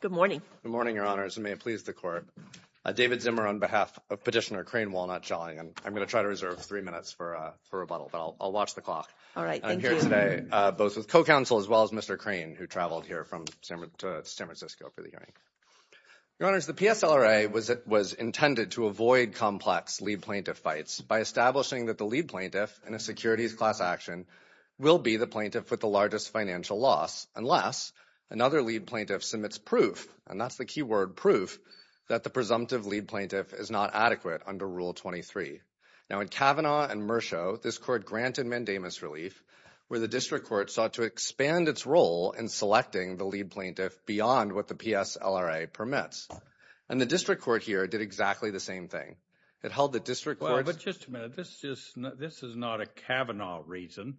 Good morning. Good morning, Your Honors. And may it please the Court. David Zimmer on behalf of Petitioner Crain Walnut Shelling, and I'm going to try to reserve three minutes for rebuttal, but I'll watch the clock. All right. Thank you. I'm here today, both with co-counsel as well as Mr. Crain, who traveled here from San Francisco for the hearing. Your Honors, the PSLRA was intended to avoid complex lead plaintiff fights by establishing that the lead plaintiff in a securities class action will be the plaintiff with the largest financial loss unless another lead plaintiff submits proof, and that's the key word, proof that the presumptive lead plaintiff is not adequate under Rule 23. Now, in Kavanaugh and Mershaw, this Court granted mandamus relief where the District Court sought to expand its role in selecting the lead plaintiff beyond what the PSLRA permits. And the District Court here did exactly the same thing. It held the District Court's- Well, but just a minute. This is not a Kavanaugh reason.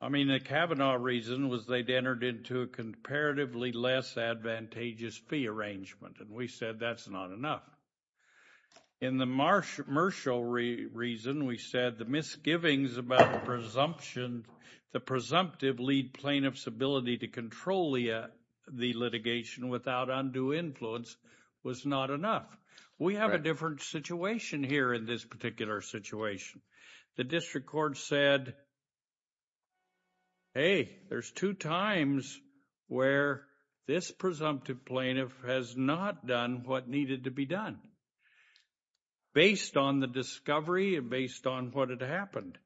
I mean, the Kavanaugh reason was they'd entered into a comparatively less advantageous fee arrangement, and we said that's not enough. In the Mershaw reason, we said the misgivings about the presumptive lead plaintiff's ability to control the litigation without undue influence was not enough. We have a different situation here in this particular situation. The District Court said, hey, there's two times where this presumptive plaintiff has not done what needed to be done based on the discovery and based on what had happened.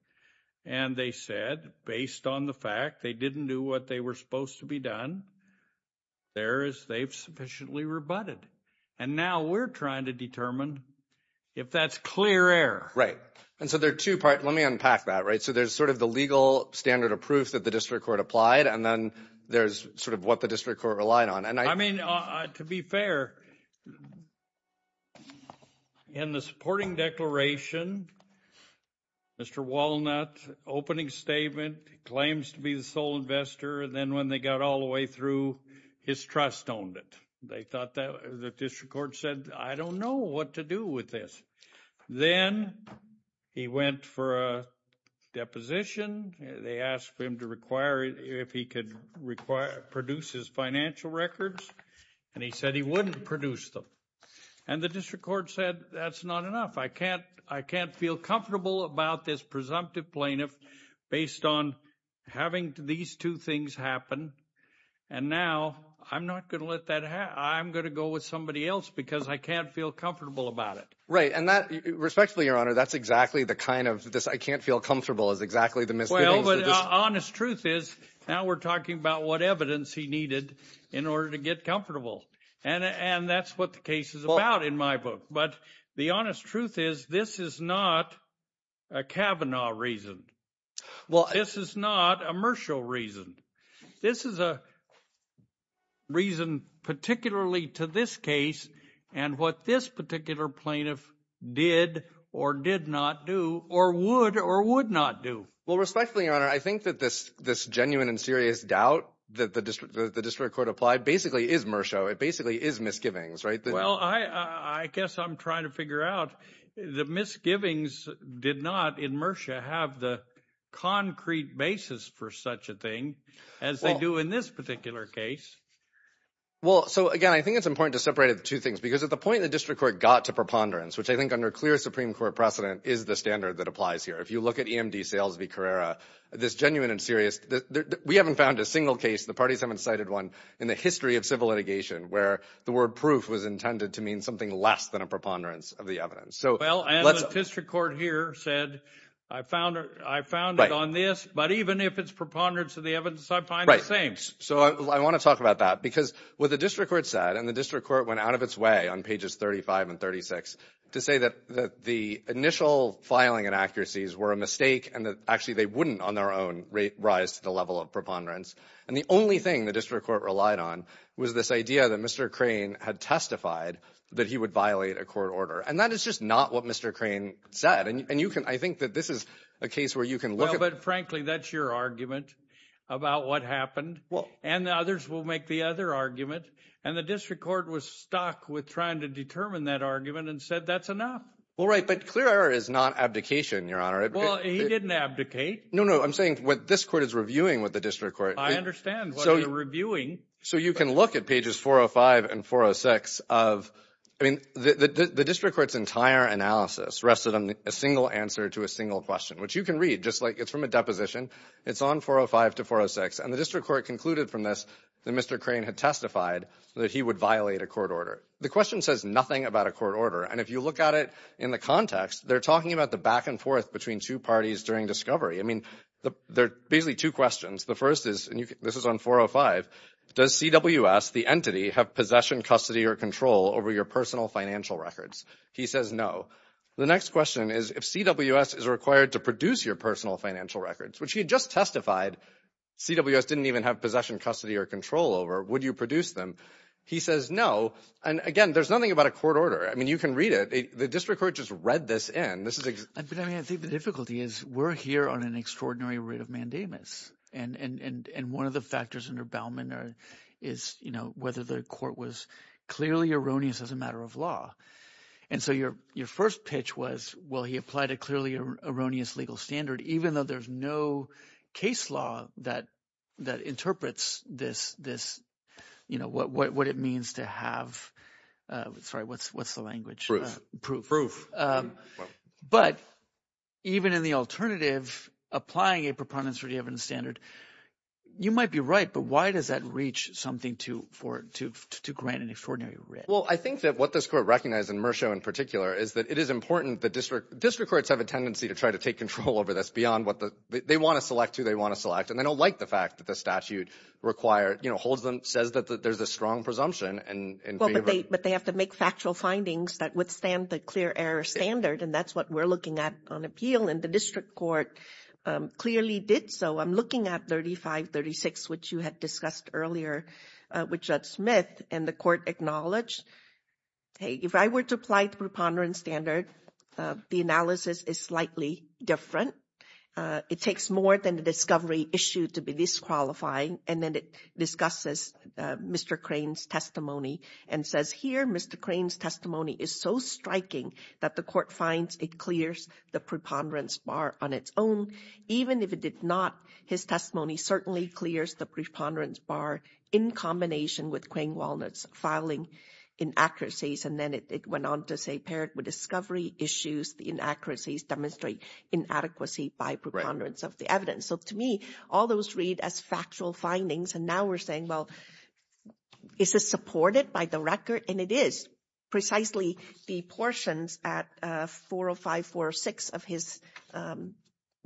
And they said, based on the fact they didn't do what they were supposed to be done, there is- they've sufficiently rebutted. And now we're trying to determine if that's clear error. Right. And so there are two parts. Let me unpack that, right? So there's sort of the legal standard of proof that the District Court applied, and then there's sort of what the District Court relied on. And I- I mean, to be fair, in the supporting declaration, Mr. Walnut's opening statement, he claims to be the sole investor, and then when they got all the way through, his trust owned it. They thought that- the District Court said, I don't know what to do with this. Then he went for a deposition. They asked him to require- if he could require- produce his financial records, and he said he wouldn't produce them. And the District Court said, that's not enough. I can't- I can't feel comfortable about this presumptive plaintiff based on having these two things happen. And now I'm not going to let that- I'm going to go with somebody else because I can't feel comfortable about it. Right. And that- respectfully, Your Honor, that's exactly the kind of- this I can't feel comfortable is exactly the misgivings- Well, but the honest truth is, now we're talking about what evidence he needed in order to get comfortable. And that's what the case is about in my book. But the honest truth is, this is not a Kavanaugh reason. This is not a Mershaw reason. This is a reason particularly to this case and what this particular plaintiff did or did not do or would or would not do. Well, respectfully, Your Honor, I think that this genuine and serious doubt that the District Court applied basically is Mershaw. It basically is misgivings, right? Well, I guess I'm trying to figure out the misgivings did not in Mershaw have the concrete basis for such a thing as they do in this particular case. Well, so again, I think it's important to separate the two things because at the point the District Court got to preponderance, which I think under clear Supreme Court precedent is the standard that applies here. If you look at EMD Sales v. Carrera, this genuine and serious- we haven't found a single case, the parties haven't cited one, in the history of civil litigation where the word proof was intended to mean something less than a preponderance of the evidence. Well, and the District Court here said, I found it on this, but even if it's preponderance of the evidence, I find the same. So I want to talk about that because what the District Court said, and the District Court went out of its way on pages 35 and 36 to say that the initial filing inaccuracies were a mistake and that actually they wouldn't on their own rise to the level of preponderance. And the only thing the District Court relied on was this idea that Mr. Crane had testified that he would violate a court order. And that is just not what Mr. Crane said. And you can- I think that this is a case where you can look at- Well, but frankly, that's your argument about what happened. And others will make the other argument. And the District Court was stuck with trying to determine that argument and said that's enough. Well, right. But clear error is not abdication, Your Honor. Well, he didn't abdicate. No, no. I'm saying what this court is reviewing with the District Court. I understand what you're reviewing. So you can look at pages 405 and 406 of- I mean, the District Court's entire analysis rested on a single answer to a single question, which you can read just like it's from a deposition. It's on 405 to 406. And the District Court concluded from this that Mr. Crane had testified that he would violate a court order. The question says nothing about a court order. And if you look at it in the context, they're talking about the back and forth between two parties during discovery. I mean, there are basically two questions. The first is, and this is on 405, does CWS, the entity, have possession, custody, or control over your personal financial records? He says no. The next question is if CWS is required to produce your personal financial records, which he had just testified CWS didn't even have possession, custody, or control over, would you produce them? He says no. And, again, there's nothing about a court order. I mean, you can read it. The District Court just read this in. I mean, I think the difficulty is we're here on an extraordinary writ of mandamus. And one of the factors under Bauman is, you know, whether the court was clearly erroneous as a matter of law. And so your first pitch was, well, he applied a clearly erroneous legal standard, even though there's no case law that interprets this, you know, what it means to have, sorry, what's the language? Proof. But even in the alternative, applying a preponderance-redeeming standard, you might be right, but why does that reach something to grant an extraordinary writ? Well, I think that what this court recognized, and Merschow in particular, is that it is important that District Courts have a tendency to try to take control over this beyond what the, they want to select who they want to select, and they don't like the fact that the statute requires, you know, holds them, says that there's a strong presumption and behavior. I think that's right, but they have to make factual findings that withstand the clear error standard, and that's what we're looking at on appeal, and the District Court clearly did so. I'm looking at 3536, which you had discussed earlier with Judge Smith, and the court acknowledged, hey, if I were to apply the preponderance standard, the analysis is slightly different. It takes more than the discovery issue to be disqualifying, and then it discusses Mr. Crane's testimony and says, here, Mr. Crane's testimony is so striking that the court finds it clears the preponderance bar on its own, even if it did not, his testimony certainly clears the preponderance bar in combination with Crane-Walnut's filing inaccuracies, and then it went on to say, paired with discovery issues, the inaccuracies demonstrate inadequacy by preponderance of the evidence, so to me, all those read as factual findings, and now we're saying, well, is this supported by the record, and it is, precisely the portions at 405, 406 of his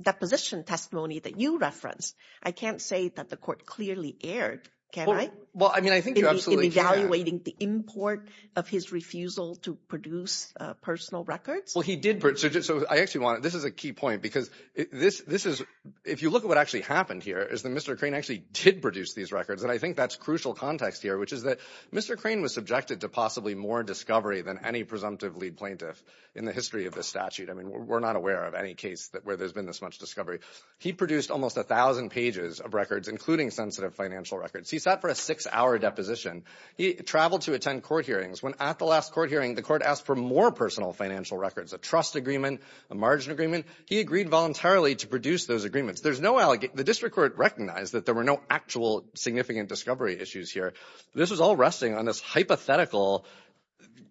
deposition testimony that you referenced, I can't say that the court clearly erred, can I, in evaluating the import of his refusal to produce personal records? Well, he did, so I actually want to, this is a key point, because this is, if you look at what actually happened here, is that Mr. Crane actually did produce these records, and I think that's crucial context here, which is that Mr. Crane was subjected to possibly more discovery than any presumptive lead plaintiff in the history of this statute, I mean, we're not aware of any case where there's been this much discovery, he produced almost 1,000 pages of records, including sensitive financial records, he sat for a six-hour deposition, he traveled to attend court hearings, when at the last court hearing, the court asked for more personal financial records, a trust agreement, a margin agreement, he agreed voluntarily to produce those agreements, the district court recognized that there were no actual significant discovery issues here, this was all resting on this hypothetical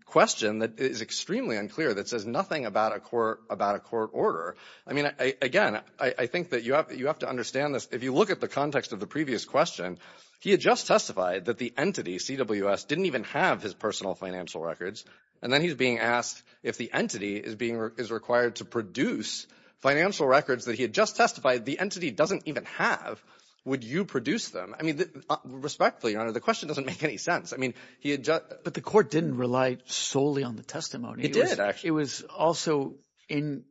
question that is extremely unclear, that says nothing about a court order, I mean, again, I think that you have to understand this, if you look at the context of the previous question, he had just testified that the entity, CWS, didn't even have his personal financial records, and then he's being asked if the entity is being, is required to produce financial records that he had just testified, the entity doesn't even have, would you produce them, I mean, respectfully, your honor, the question doesn't make any sense, I mean, he had just. But the court didn't rely solely on the testimony. It did, actually. It was also, in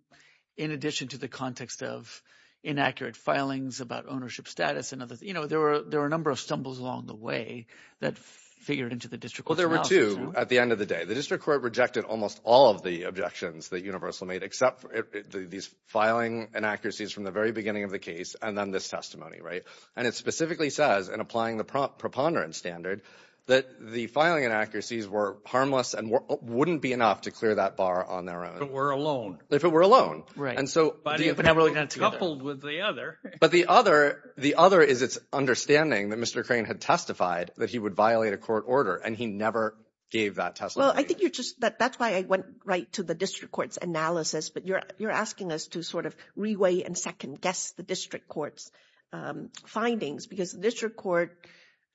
addition to the context of inaccurate filings about ownership status and other, you know, there were a number of stumbles along the way that figured into the district court's analysis. Well, there were two, at the end of the day, the district court rejected almost all of the objections that Universal made, except these filing inaccuracies from the very beginning of the case, and then this testimony, right? And it specifically says, in applying the preponderance standard, that the filing inaccuracies were harmless and wouldn't be enough to clear that bar on their own. If it were a loan. If it were a loan. And so. Coupled with the other. But the other, the other is its understanding that Mr. Crane had testified that he would violate a court order, and he never gave that testimony. Well, I think you're just. That's why I went right to the district court's analysis, but you're you're asking us to sort of reweigh and second guess the district court's findings, because the district court,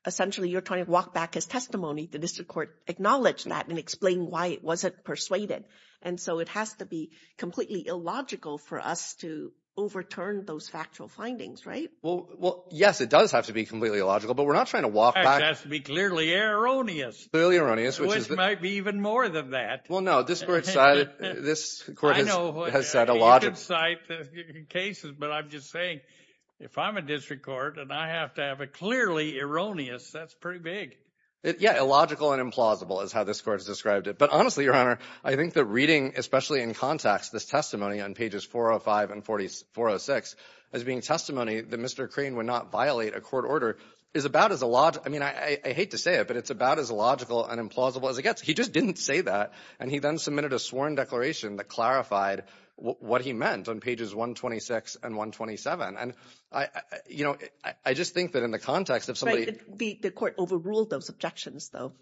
essentially, you're trying to walk back his testimony. The district court acknowledged that and explain why it wasn't persuaded. And so it has to be completely illogical for us to overturn those factual findings, right? Well, yes, it does have to be completely illogical, but we're not trying to walk back. It has to be clearly erroneous. Clearly erroneous. Which might be even more than that. Well, no, this court has said a lot of cases, but I'm just saying if I'm a district court and I have to have a clearly erroneous, that's pretty big. Yeah. Illogical and implausible is how this court has described it. But honestly, Your Honor, I think the reading, especially in context, this testimony on pages 405 and 406 as being testimony that Mr. Crane would not violate a court order is about as I hate to say it, but it's about as illogical and implausible as it gets. He just didn't say that. And he then submitted a sworn declaration that clarified what he meant on pages 126 and 127. And I just think that in the context of somebody... The court overruled those objections, though.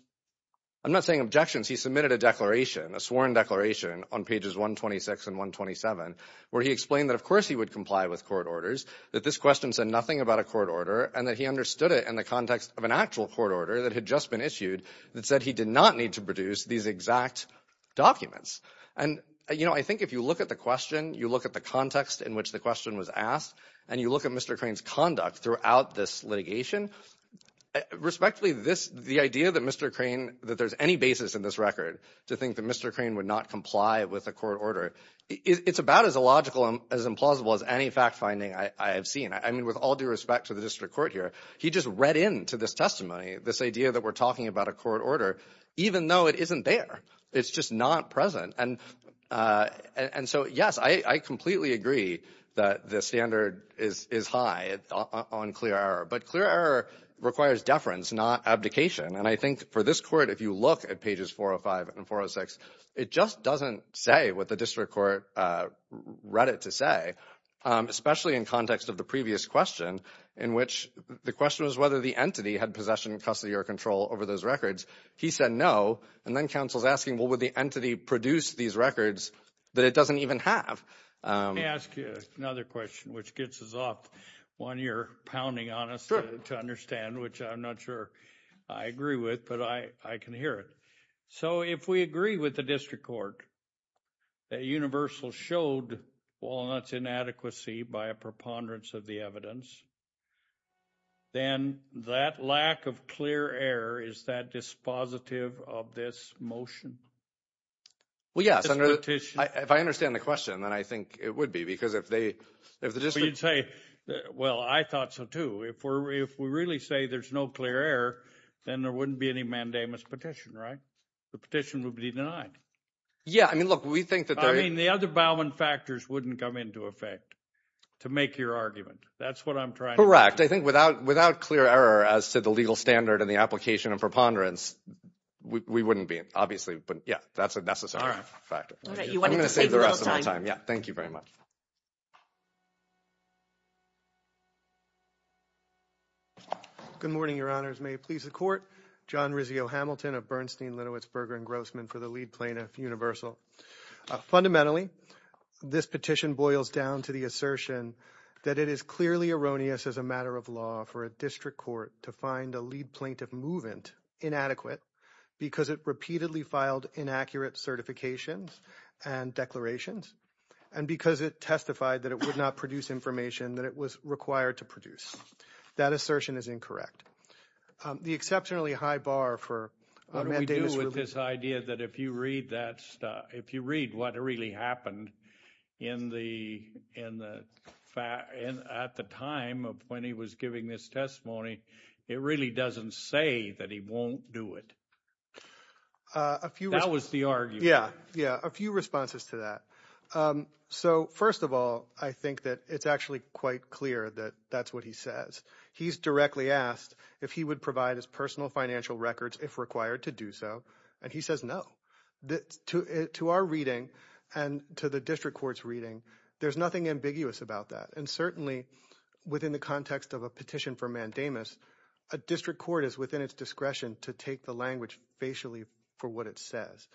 I'm not saying objections. He submitted a declaration, a sworn declaration on pages 126 and 127, where he explained that, of course, he would comply with court orders, that this question said nothing about a court order, and that he understood it in the context of an actual court order that had just been issued that said he did not need to produce these exact documents. And I think if you look at the question, you look at the context in which the question was asked, and you look at Mr. Crane's conduct throughout this litigation, respectfully, the idea that Mr. Crane, that there's any basis in this record to think that Mr. Crane would not comply with a court order, it's about as illogical and as implausible as any fact finding I have seen. I mean, with all due respect to the district court here, he just read into this testimony, this idea that we're talking about a court order, even though it isn't there. It's just not present. And so, yes, I completely agree that the standard is high on clear error. But clear error requires deference, not abdication. And I think for this court, if you look at pages 405 and 406, it just doesn't say what the district court read it to say, especially in context of the previous question, in which the question was whether the entity had possession, custody, or control over those records. He said no. And then counsel's asking, well, would the entity produce these records that it doesn't even have? Let me ask you another question, which gets us off one you're pounding on us to understand, which I'm not sure I agree with, but I can hear it. So if we agree with the district court that Universal showed Walnut's inadequacy by a preponderance of the evidence, then that lack of clear error, is that dispositive of this motion? Well, yes. If I understand the question, then I think it would be, because if they, if the district You'd say, well, I thought so, too. If we really say there's no clear error, then there wouldn't be any mandamus petition, right? The petition would be denied. Yeah. I mean, look, we think that the other Bowman factors wouldn't come into effect to make your argument. That's what I'm trying. Correct. I think without clear error as to the legal standard and the application and preponderance, we wouldn't be, obviously. But yeah, that's a necessary factor. I'm going to save the rest of my time. Yeah. Thank you very much. Good morning, Your Honors. May it please the court. John Rizzio Hamilton of Bernstein, Lenowitz, Berger, and Grossman for the lead plaintiff, Fundamentally, this petition boils down to the assertion that it is clearly erroneous as a matter of law for a district court to find a lead plaintiff movement inadequate because it repeatedly filed inaccurate certifications and declarations and because it testified that it would not produce information that it was required to produce. That assertion is incorrect. The exceptionally high bar for Matt Davis... What do we do with this idea that if you read what really happened at the time of when he was giving this testimony, it really doesn't say that he won't do it? That was the argument. Yeah. A few responses to that. So first of all, I think that it's actually quite clear that that's what he says. He's directly asked if he would provide his personal financial records if required to do so. And he says no. To our reading and to the district court's reading, there's nothing ambiguous about that. And certainly within the context of a petition for Matt Davis, a district court is within its discretion to take the language facially for what it says.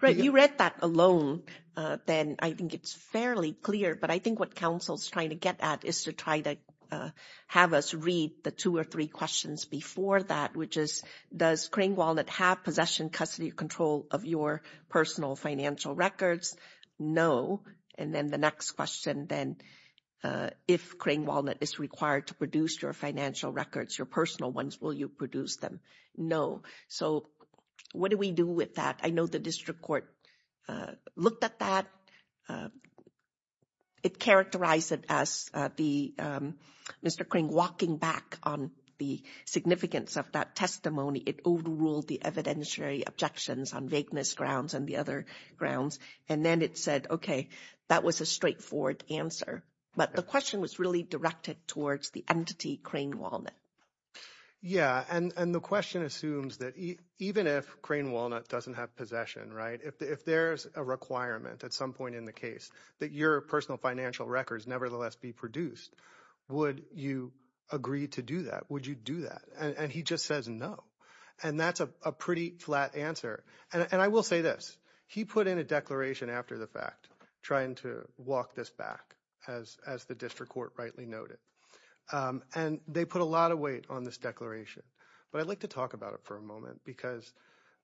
Right. You read that alone. Then I think it's fairly clear. But I think what counsel's trying to get at is to try to have us read the two or three questions before that, which is, does Crane-Walnut have possession, custody, control of your personal financial records? No. And then the next question, then, if Crane-Walnut is required to produce your financial records, your personal ones, will you produce them? No. So what do we do with that? I know the district court looked at that. It characterized it as Mr. Crane walking back on the significance of that testimony. It overruled the evidentiary objections on vagueness grounds and the other grounds. And then it said, okay, that was a straightforward answer. But the question was really directed towards the entity Crane-Walnut. Yeah. And the question assumes that even if Crane-Walnut doesn't have possession, right, if there's a requirement at some point in the case that your personal financial records nevertheless be produced, would you agree to do that? Would you do that? And he just says no. And that's a pretty flat answer. And I will say this. He put in a declaration after the fact trying to walk this back, as the district court rightly noted. And they put a lot of weight on this declaration. But I'd like to talk about it for a moment because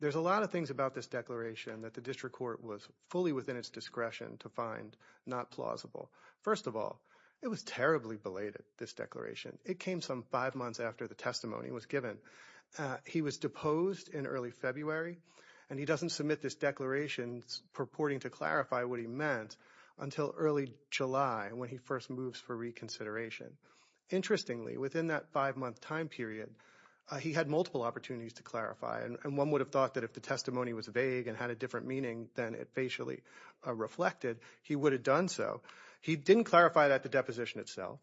there's a lot of things about this declaration that the district court was fully within its discretion to find not plausible. First of all, it was terribly belated, this declaration. It came some five months after the testimony was given. He was deposed in early February. And he doesn't submit this declaration purporting to clarify what he meant until early July when he first moves for reconsideration. Interestingly, within that five-month time period, he had multiple opportunities to clarify. And one would have thought that if the testimony was vague and had a different meaning than it facially reflected, he would have done so. He didn't clarify that at the deposition itself.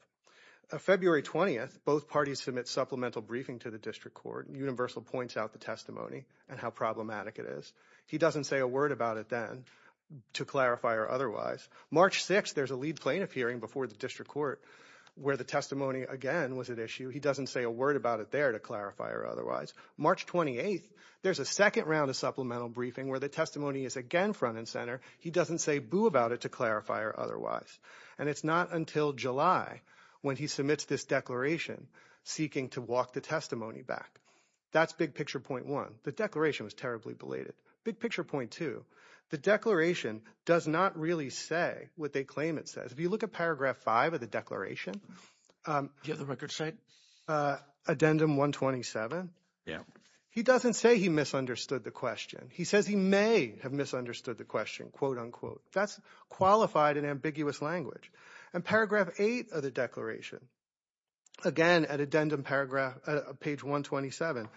February 20th, both parties submit supplemental briefing to the district court. Universal points out the testimony and how problematic it is. He doesn't say a word about it then to clarify or otherwise. March 6th, there's a lead plaintiff hearing before the district court where the testimony again was at issue. He doesn't say a word about it there to clarify or otherwise. March 28th, there's a second round of supplemental briefing where the testimony is again front and center. He doesn't say boo about it to clarify or otherwise. And it's not until July when he submits this declaration seeking to walk the testimony back. That's big picture point one. The declaration was terribly belated. Big picture point two, the declaration does not really say what they claim it says. If you look at paragraph five of the declaration. The other record site. Addendum 127. Yeah. He doesn't say he misunderstood the question. He says he may have misunderstood the question, quote unquote. That's qualified and ambiguous language. And paragraph eight of the declaration. Again, at addendum paragraph page 127.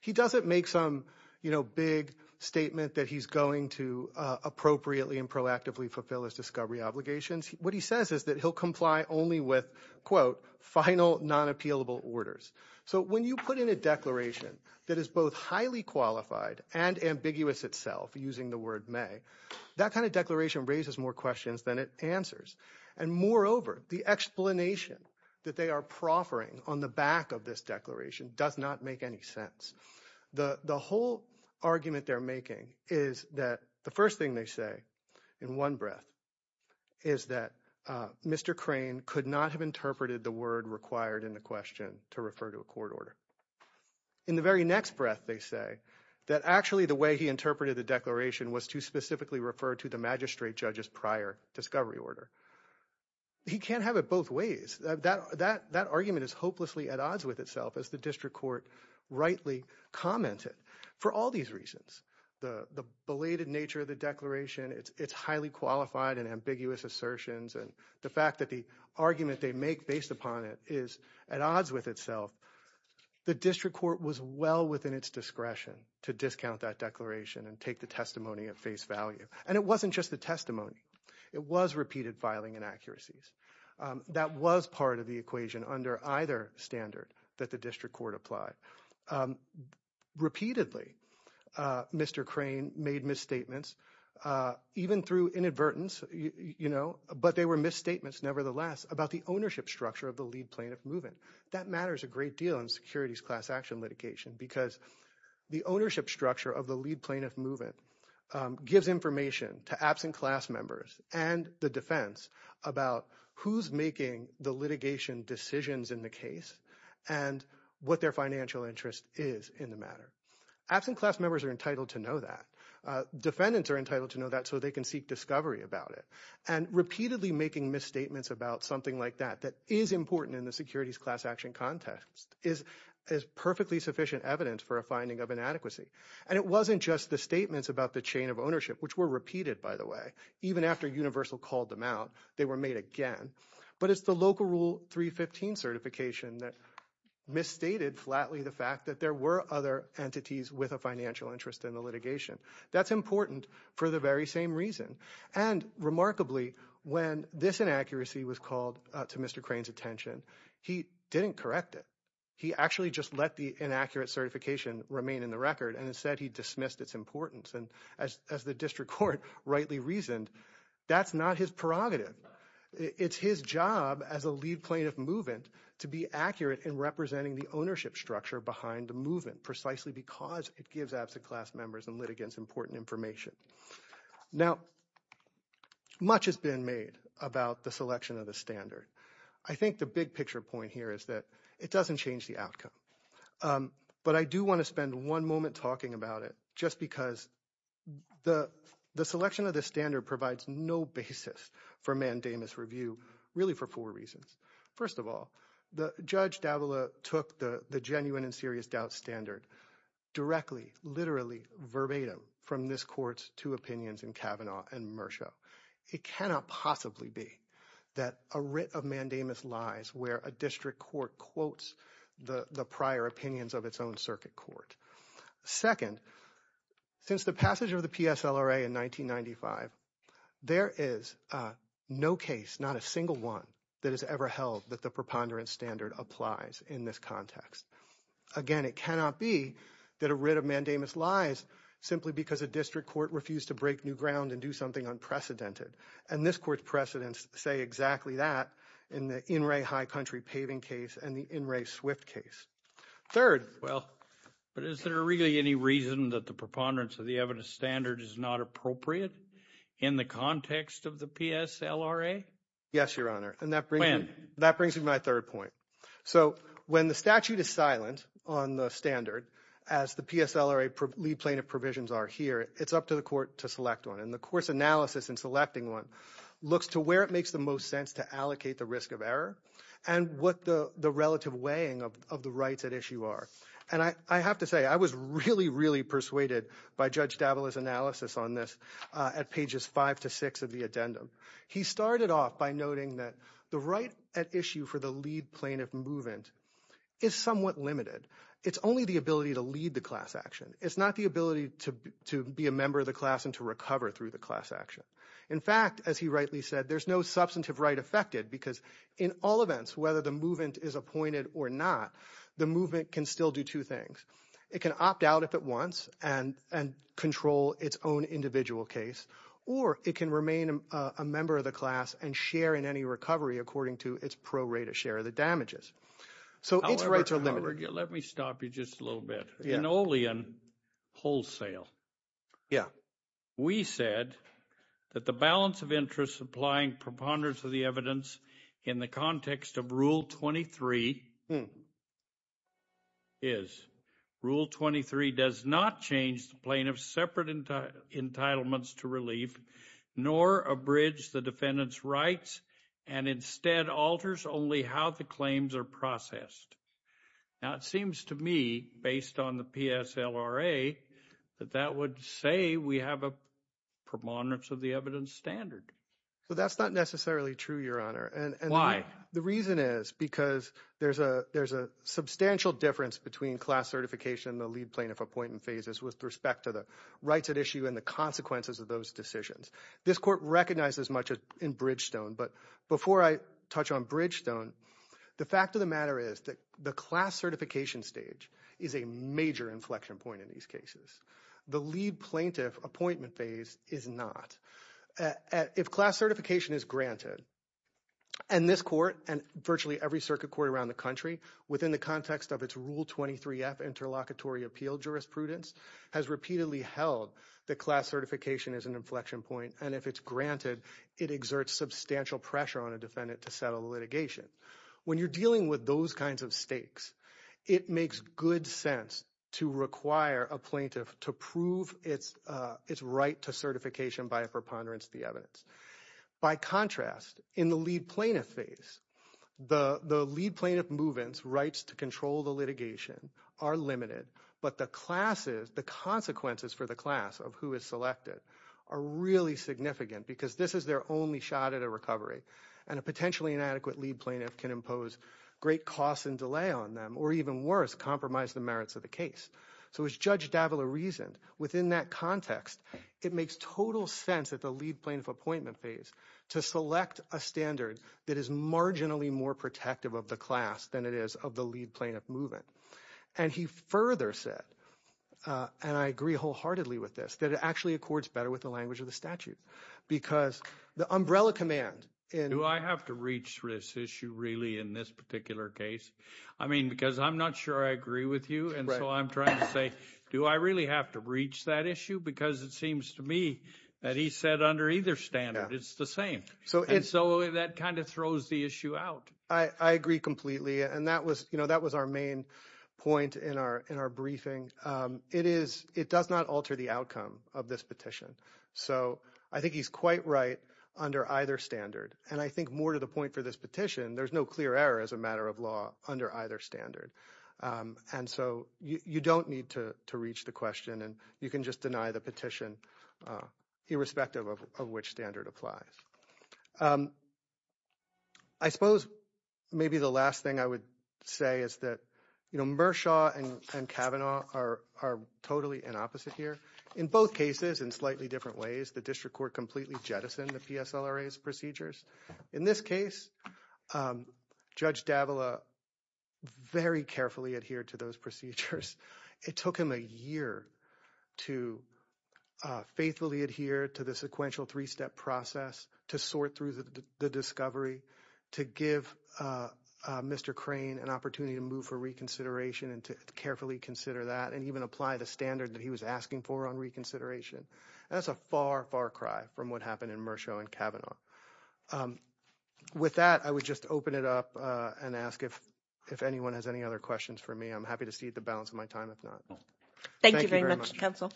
He doesn't make some, you know, big statement that he's going to appropriately and proactively fulfill his discovery obligations. What he says is that he'll comply only with, quote, final non-appealable orders. So when you put in a declaration that is both highly qualified and ambiguous itself, using the word may, that kind of declaration raises more questions than it answers. And moreover, the explanation that they are proffering on the back of this declaration does not make any sense. The whole argument they're making is that the first thing they say in one breath is that Mr. Crane could not have interpreted the word required in the question to refer to a court order. In the very next breath, they say that actually the way he interpreted the declaration was to specifically refer to the magistrate judge's prior discovery order. He can't have it both ways. That argument is hopelessly at odds with itself, as the district court rightly commented, for all these reasons. The belated nature of the declaration, its highly qualified and ambiguous assertions, and the fact that the argument they make based upon it is at odds with itself. The district court was well within its discretion to discount that declaration and take the testimony at face value. And it wasn't just the testimony. It was repeated filing inaccuracies. That was part of the equation under either standard that the district court applied. Repeatedly, Mr. Crane made misstatements, even through inadvertence, but they were misstatements nevertheless about the ownership structure of the lead plaintiff moving. That matters a great deal in securities class action litigation because the ownership structure of the lead plaintiff moving gives information to absent class members and the defense about who's making the litigation decisions in the case and what their financial interest is in the matter. Absent class members are entitled to know that. Defendants are entitled to know that so they can seek discovery about it. And repeatedly making misstatements about something like that that is important in the securities class action context is perfectly sufficient evidence for a finding of inadequacy. And it wasn't just the statements about the chain of ownership, which were repeated, by But it's the local rule 315 certification that misstated flatly the fact that there were other entities with a financial interest in the litigation. That's important for the very same reason. And remarkably, when this inaccuracy was called to Mr. Crane's attention, he didn't correct it. He actually just let the inaccurate certification remain in the record. And instead he dismissed its importance. And as the district court rightly reasoned, that's not his prerogative. It's his job as a lead plaintiff movement to be accurate in representing the ownership structure behind the movement precisely because it gives absent class members and litigants important information. Now, much has been made about the selection of the standard. I think the big picture point here is that it doesn't change the outcome. But I do want to spend one moment talking about it just because the selection of the standard provides no basis for mandamus review, really for four reasons. First of all, Judge Davila took the genuine and serious doubt standard directly, literally, verbatim from this court's two opinions in Kavanaugh and Murcho. It cannot possibly be that a writ of mandamus lies where a district court quotes the prior opinions of its own circuit court. Second, since the passage of the PSLRA in 1995, there is no case, not a single one, that has ever held that the preponderance standard applies in this context. Again, it cannot be that a writ of mandamus lies simply because a district court refused to break new ground and do something unprecedented. And this court's precedents say exactly that in the In Re High Country paving case and the In Re Swift case. Third. Well, but is there really any reason that the preponderance of the evidence standard is not appropriate in the context of the PSLRA? Yes, Your Honor. When? That brings me to my third point. So when the statute is silent on the standard, as the PSLRA plea plaintiff provisions are here, it's up to the court to select one. And the court's analysis in selecting one looks to where it makes the most sense to allocate the risk of error and what the relative weighing of the rights at issue are. And I have to say, I was really, really persuaded by Judge Davila's analysis on this at pages 5 to 6 of the addendum. He started off by noting that the right at issue for the lead plaintiff movement is somewhat limited. It's only the ability to lead the class action. It's not the ability to be a member of the class and to recover through the class action. In fact, as he rightly said, there's no substantive right affected because in all events, whether the movement is appointed or not, the movement can still do two things. It can opt out if it wants and control its own individual case. Or it can remain a member of the class and share in any recovery according to its pro rate of share of the damages. So its rights are limited. However, let me stop you just a little bit. In Olean wholesale. Yeah. We said that the balance of interest supplying preponderance of the evidence in the context of Rule 23. Is Rule 23 does not change the plane of separate entitlements to relief, nor a bridge, the defendant's rights, and instead alters only how the claims are processed. Now, it seems to me, based on the PSLRA, that that would say we have a preponderance of the evidence standard. So that's not necessarily true, Your Honor. And why? The reason is because there's a there's a substantial difference between class certification, the lead plaintiff appointment phases with respect to the rights at issue and the consequences of those decisions. This court recognizes much in Bridgestone. But before I touch on Bridgestone, the fact of the matter is that the class certification stage is a major inflection point in these cases. The lead plaintiff appointment phase is not if class certification is granted. And this court and virtually every circuit court around the country within the context of its Rule 23 F interlocutory appeal, jurisprudence has repeatedly held that class certification is an inflection point. And if it's granted, it exerts substantial pressure on a defendant to settle litigation. When you're dealing with those kinds of stakes, it makes good sense to require a plaintiff to prove its its right to certification by a preponderance of the evidence. By contrast, in the lead plaintiff phase, the lead plaintiff movements rights to control the litigation are limited. But the classes, the consequences for the class of who is selected are really significant because this is their only shot at a recovery. And a potentially inadequate lead plaintiff can impose great costs and delay on them or even worse, compromise the merits of the case. So as Judge Davila reasoned within that context, it makes total sense that the lead plaintiff appointment phase to select a standard that is marginally more protective of the class than it is of the lead plaintiff movement. And he further said, and I agree wholeheartedly with this, that it actually accords better with the language of the statute because the umbrella command. And do I have to reach this issue really in this particular case? I mean, because I'm not sure I agree with you. And so I'm trying to say, do I really have to reach that issue? Because it seems to me that he said under either standard, it's the same. So it's so that kind of throws the issue out. I agree completely. And that was you know, that was our main point in our in our briefing. It is it does not alter the outcome of this petition. So I think he's quite right under either standard. And I think more to the point for this petition, there's no clear error as a matter of law under either standard. And so you don't need to reach the question and you can just deny the petition, irrespective of which standard applies. I suppose maybe the last thing I would say is that, you know, Mershaw and Kavanaugh are totally in opposite here. In both cases, in slightly different ways, the district court completely jettisoned the PSLRA's procedures. In this case, Judge Davila very carefully adhered to those procedures. It took him a year to faithfully adhere to the sequential three step process to sort through the discovery, to give Mr. Crane an opportunity to move for reconsideration and to carefully consider that and even apply the standard that he was asking for on reconsideration. That's a far, far cry from what happened in Mershaw and Kavanaugh. With that, I would just open it up and ask if if anyone has any other questions for me. I'm happy to see the balance of my time, if not. Thank you very much, counsel.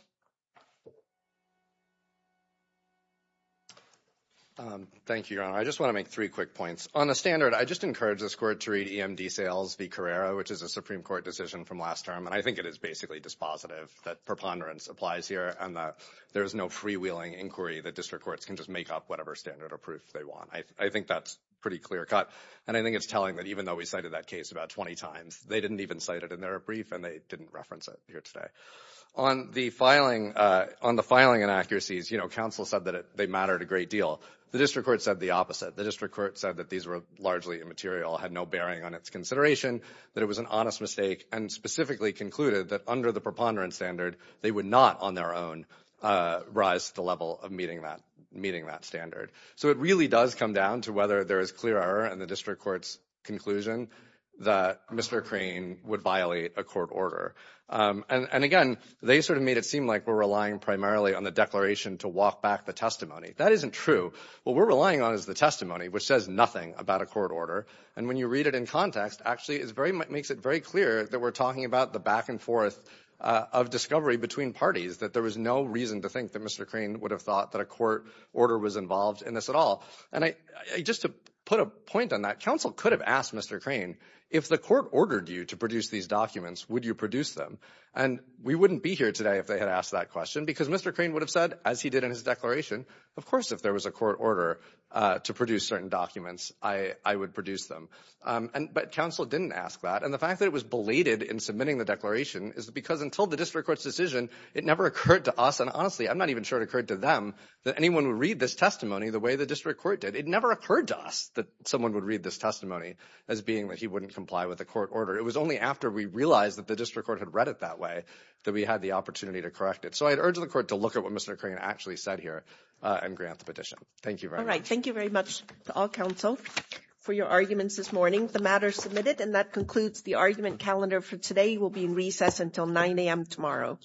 Thank you. I just want to make three quick points on the standard. I just encourage this court to read EMD sales v. Carrera, which is a Supreme Court decision from last term. And I think it is basically dispositive that preponderance applies here and that there is no freewheeling inquiry that district courts can just make up whatever standard or proof they want. I think that's pretty clear cut. And I think it's telling that even though we cited that case about 20 times, they didn't even cite it in their brief and they didn't reference it here today. On the filing, on the filing inaccuracies, you know, counsel said that they mattered a great deal. The district court said the opposite. The district court said that these were largely immaterial, had no bearing on its consideration, that it was an honest mistake and specifically concluded that under the preponderance standard, they would not on their own rise to the level of meeting that standard. So it really does come down to whether there is clear error in the district court's conclusion that Mr. Crane would violate a court order. And, again, they sort of made it seem like we're relying primarily on the declaration to walk back the testimony. That isn't true. What we're relying on is the testimony, which says nothing about a court order. And when you read it in context, actually it makes it very clear that we're talking about the back and forth of discovery between parties, that there was no reason to think that Mr. Crane would have thought that a court order was involved in this at all. And just to put a point on that, counsel could have asked Mr. Crane, if the court ordered you to produce these documents, would you produce them? And we wouldn't be here today if they had asked that question because Mr. Crane would have said, as he did in his declaration, of course if there was a court order to produce certain documents, I would produce them. But counsel didn't ask that. And the fact that it was belated in submitting the declaration is because until the district court's decision, it never occurred to us, and honestly I'm not even sure it occurred to them, that anyone would read this testimony the way the district court did. It never occurred to us that someone would read this testimony as being that he wouldn't comply with a court order. It was only after we realized that the district court had read it that way that we had the opportunity to correct it. So I'd urge the court to look at what Mr. Crane actually said here and grant the petition. Thank you very much. All right, thank you very much to all counsel for your arguments this morning. The matter is submitted, and that concludes the argument calendar for today. We'll be in recess until 9 a.m. tomorrow.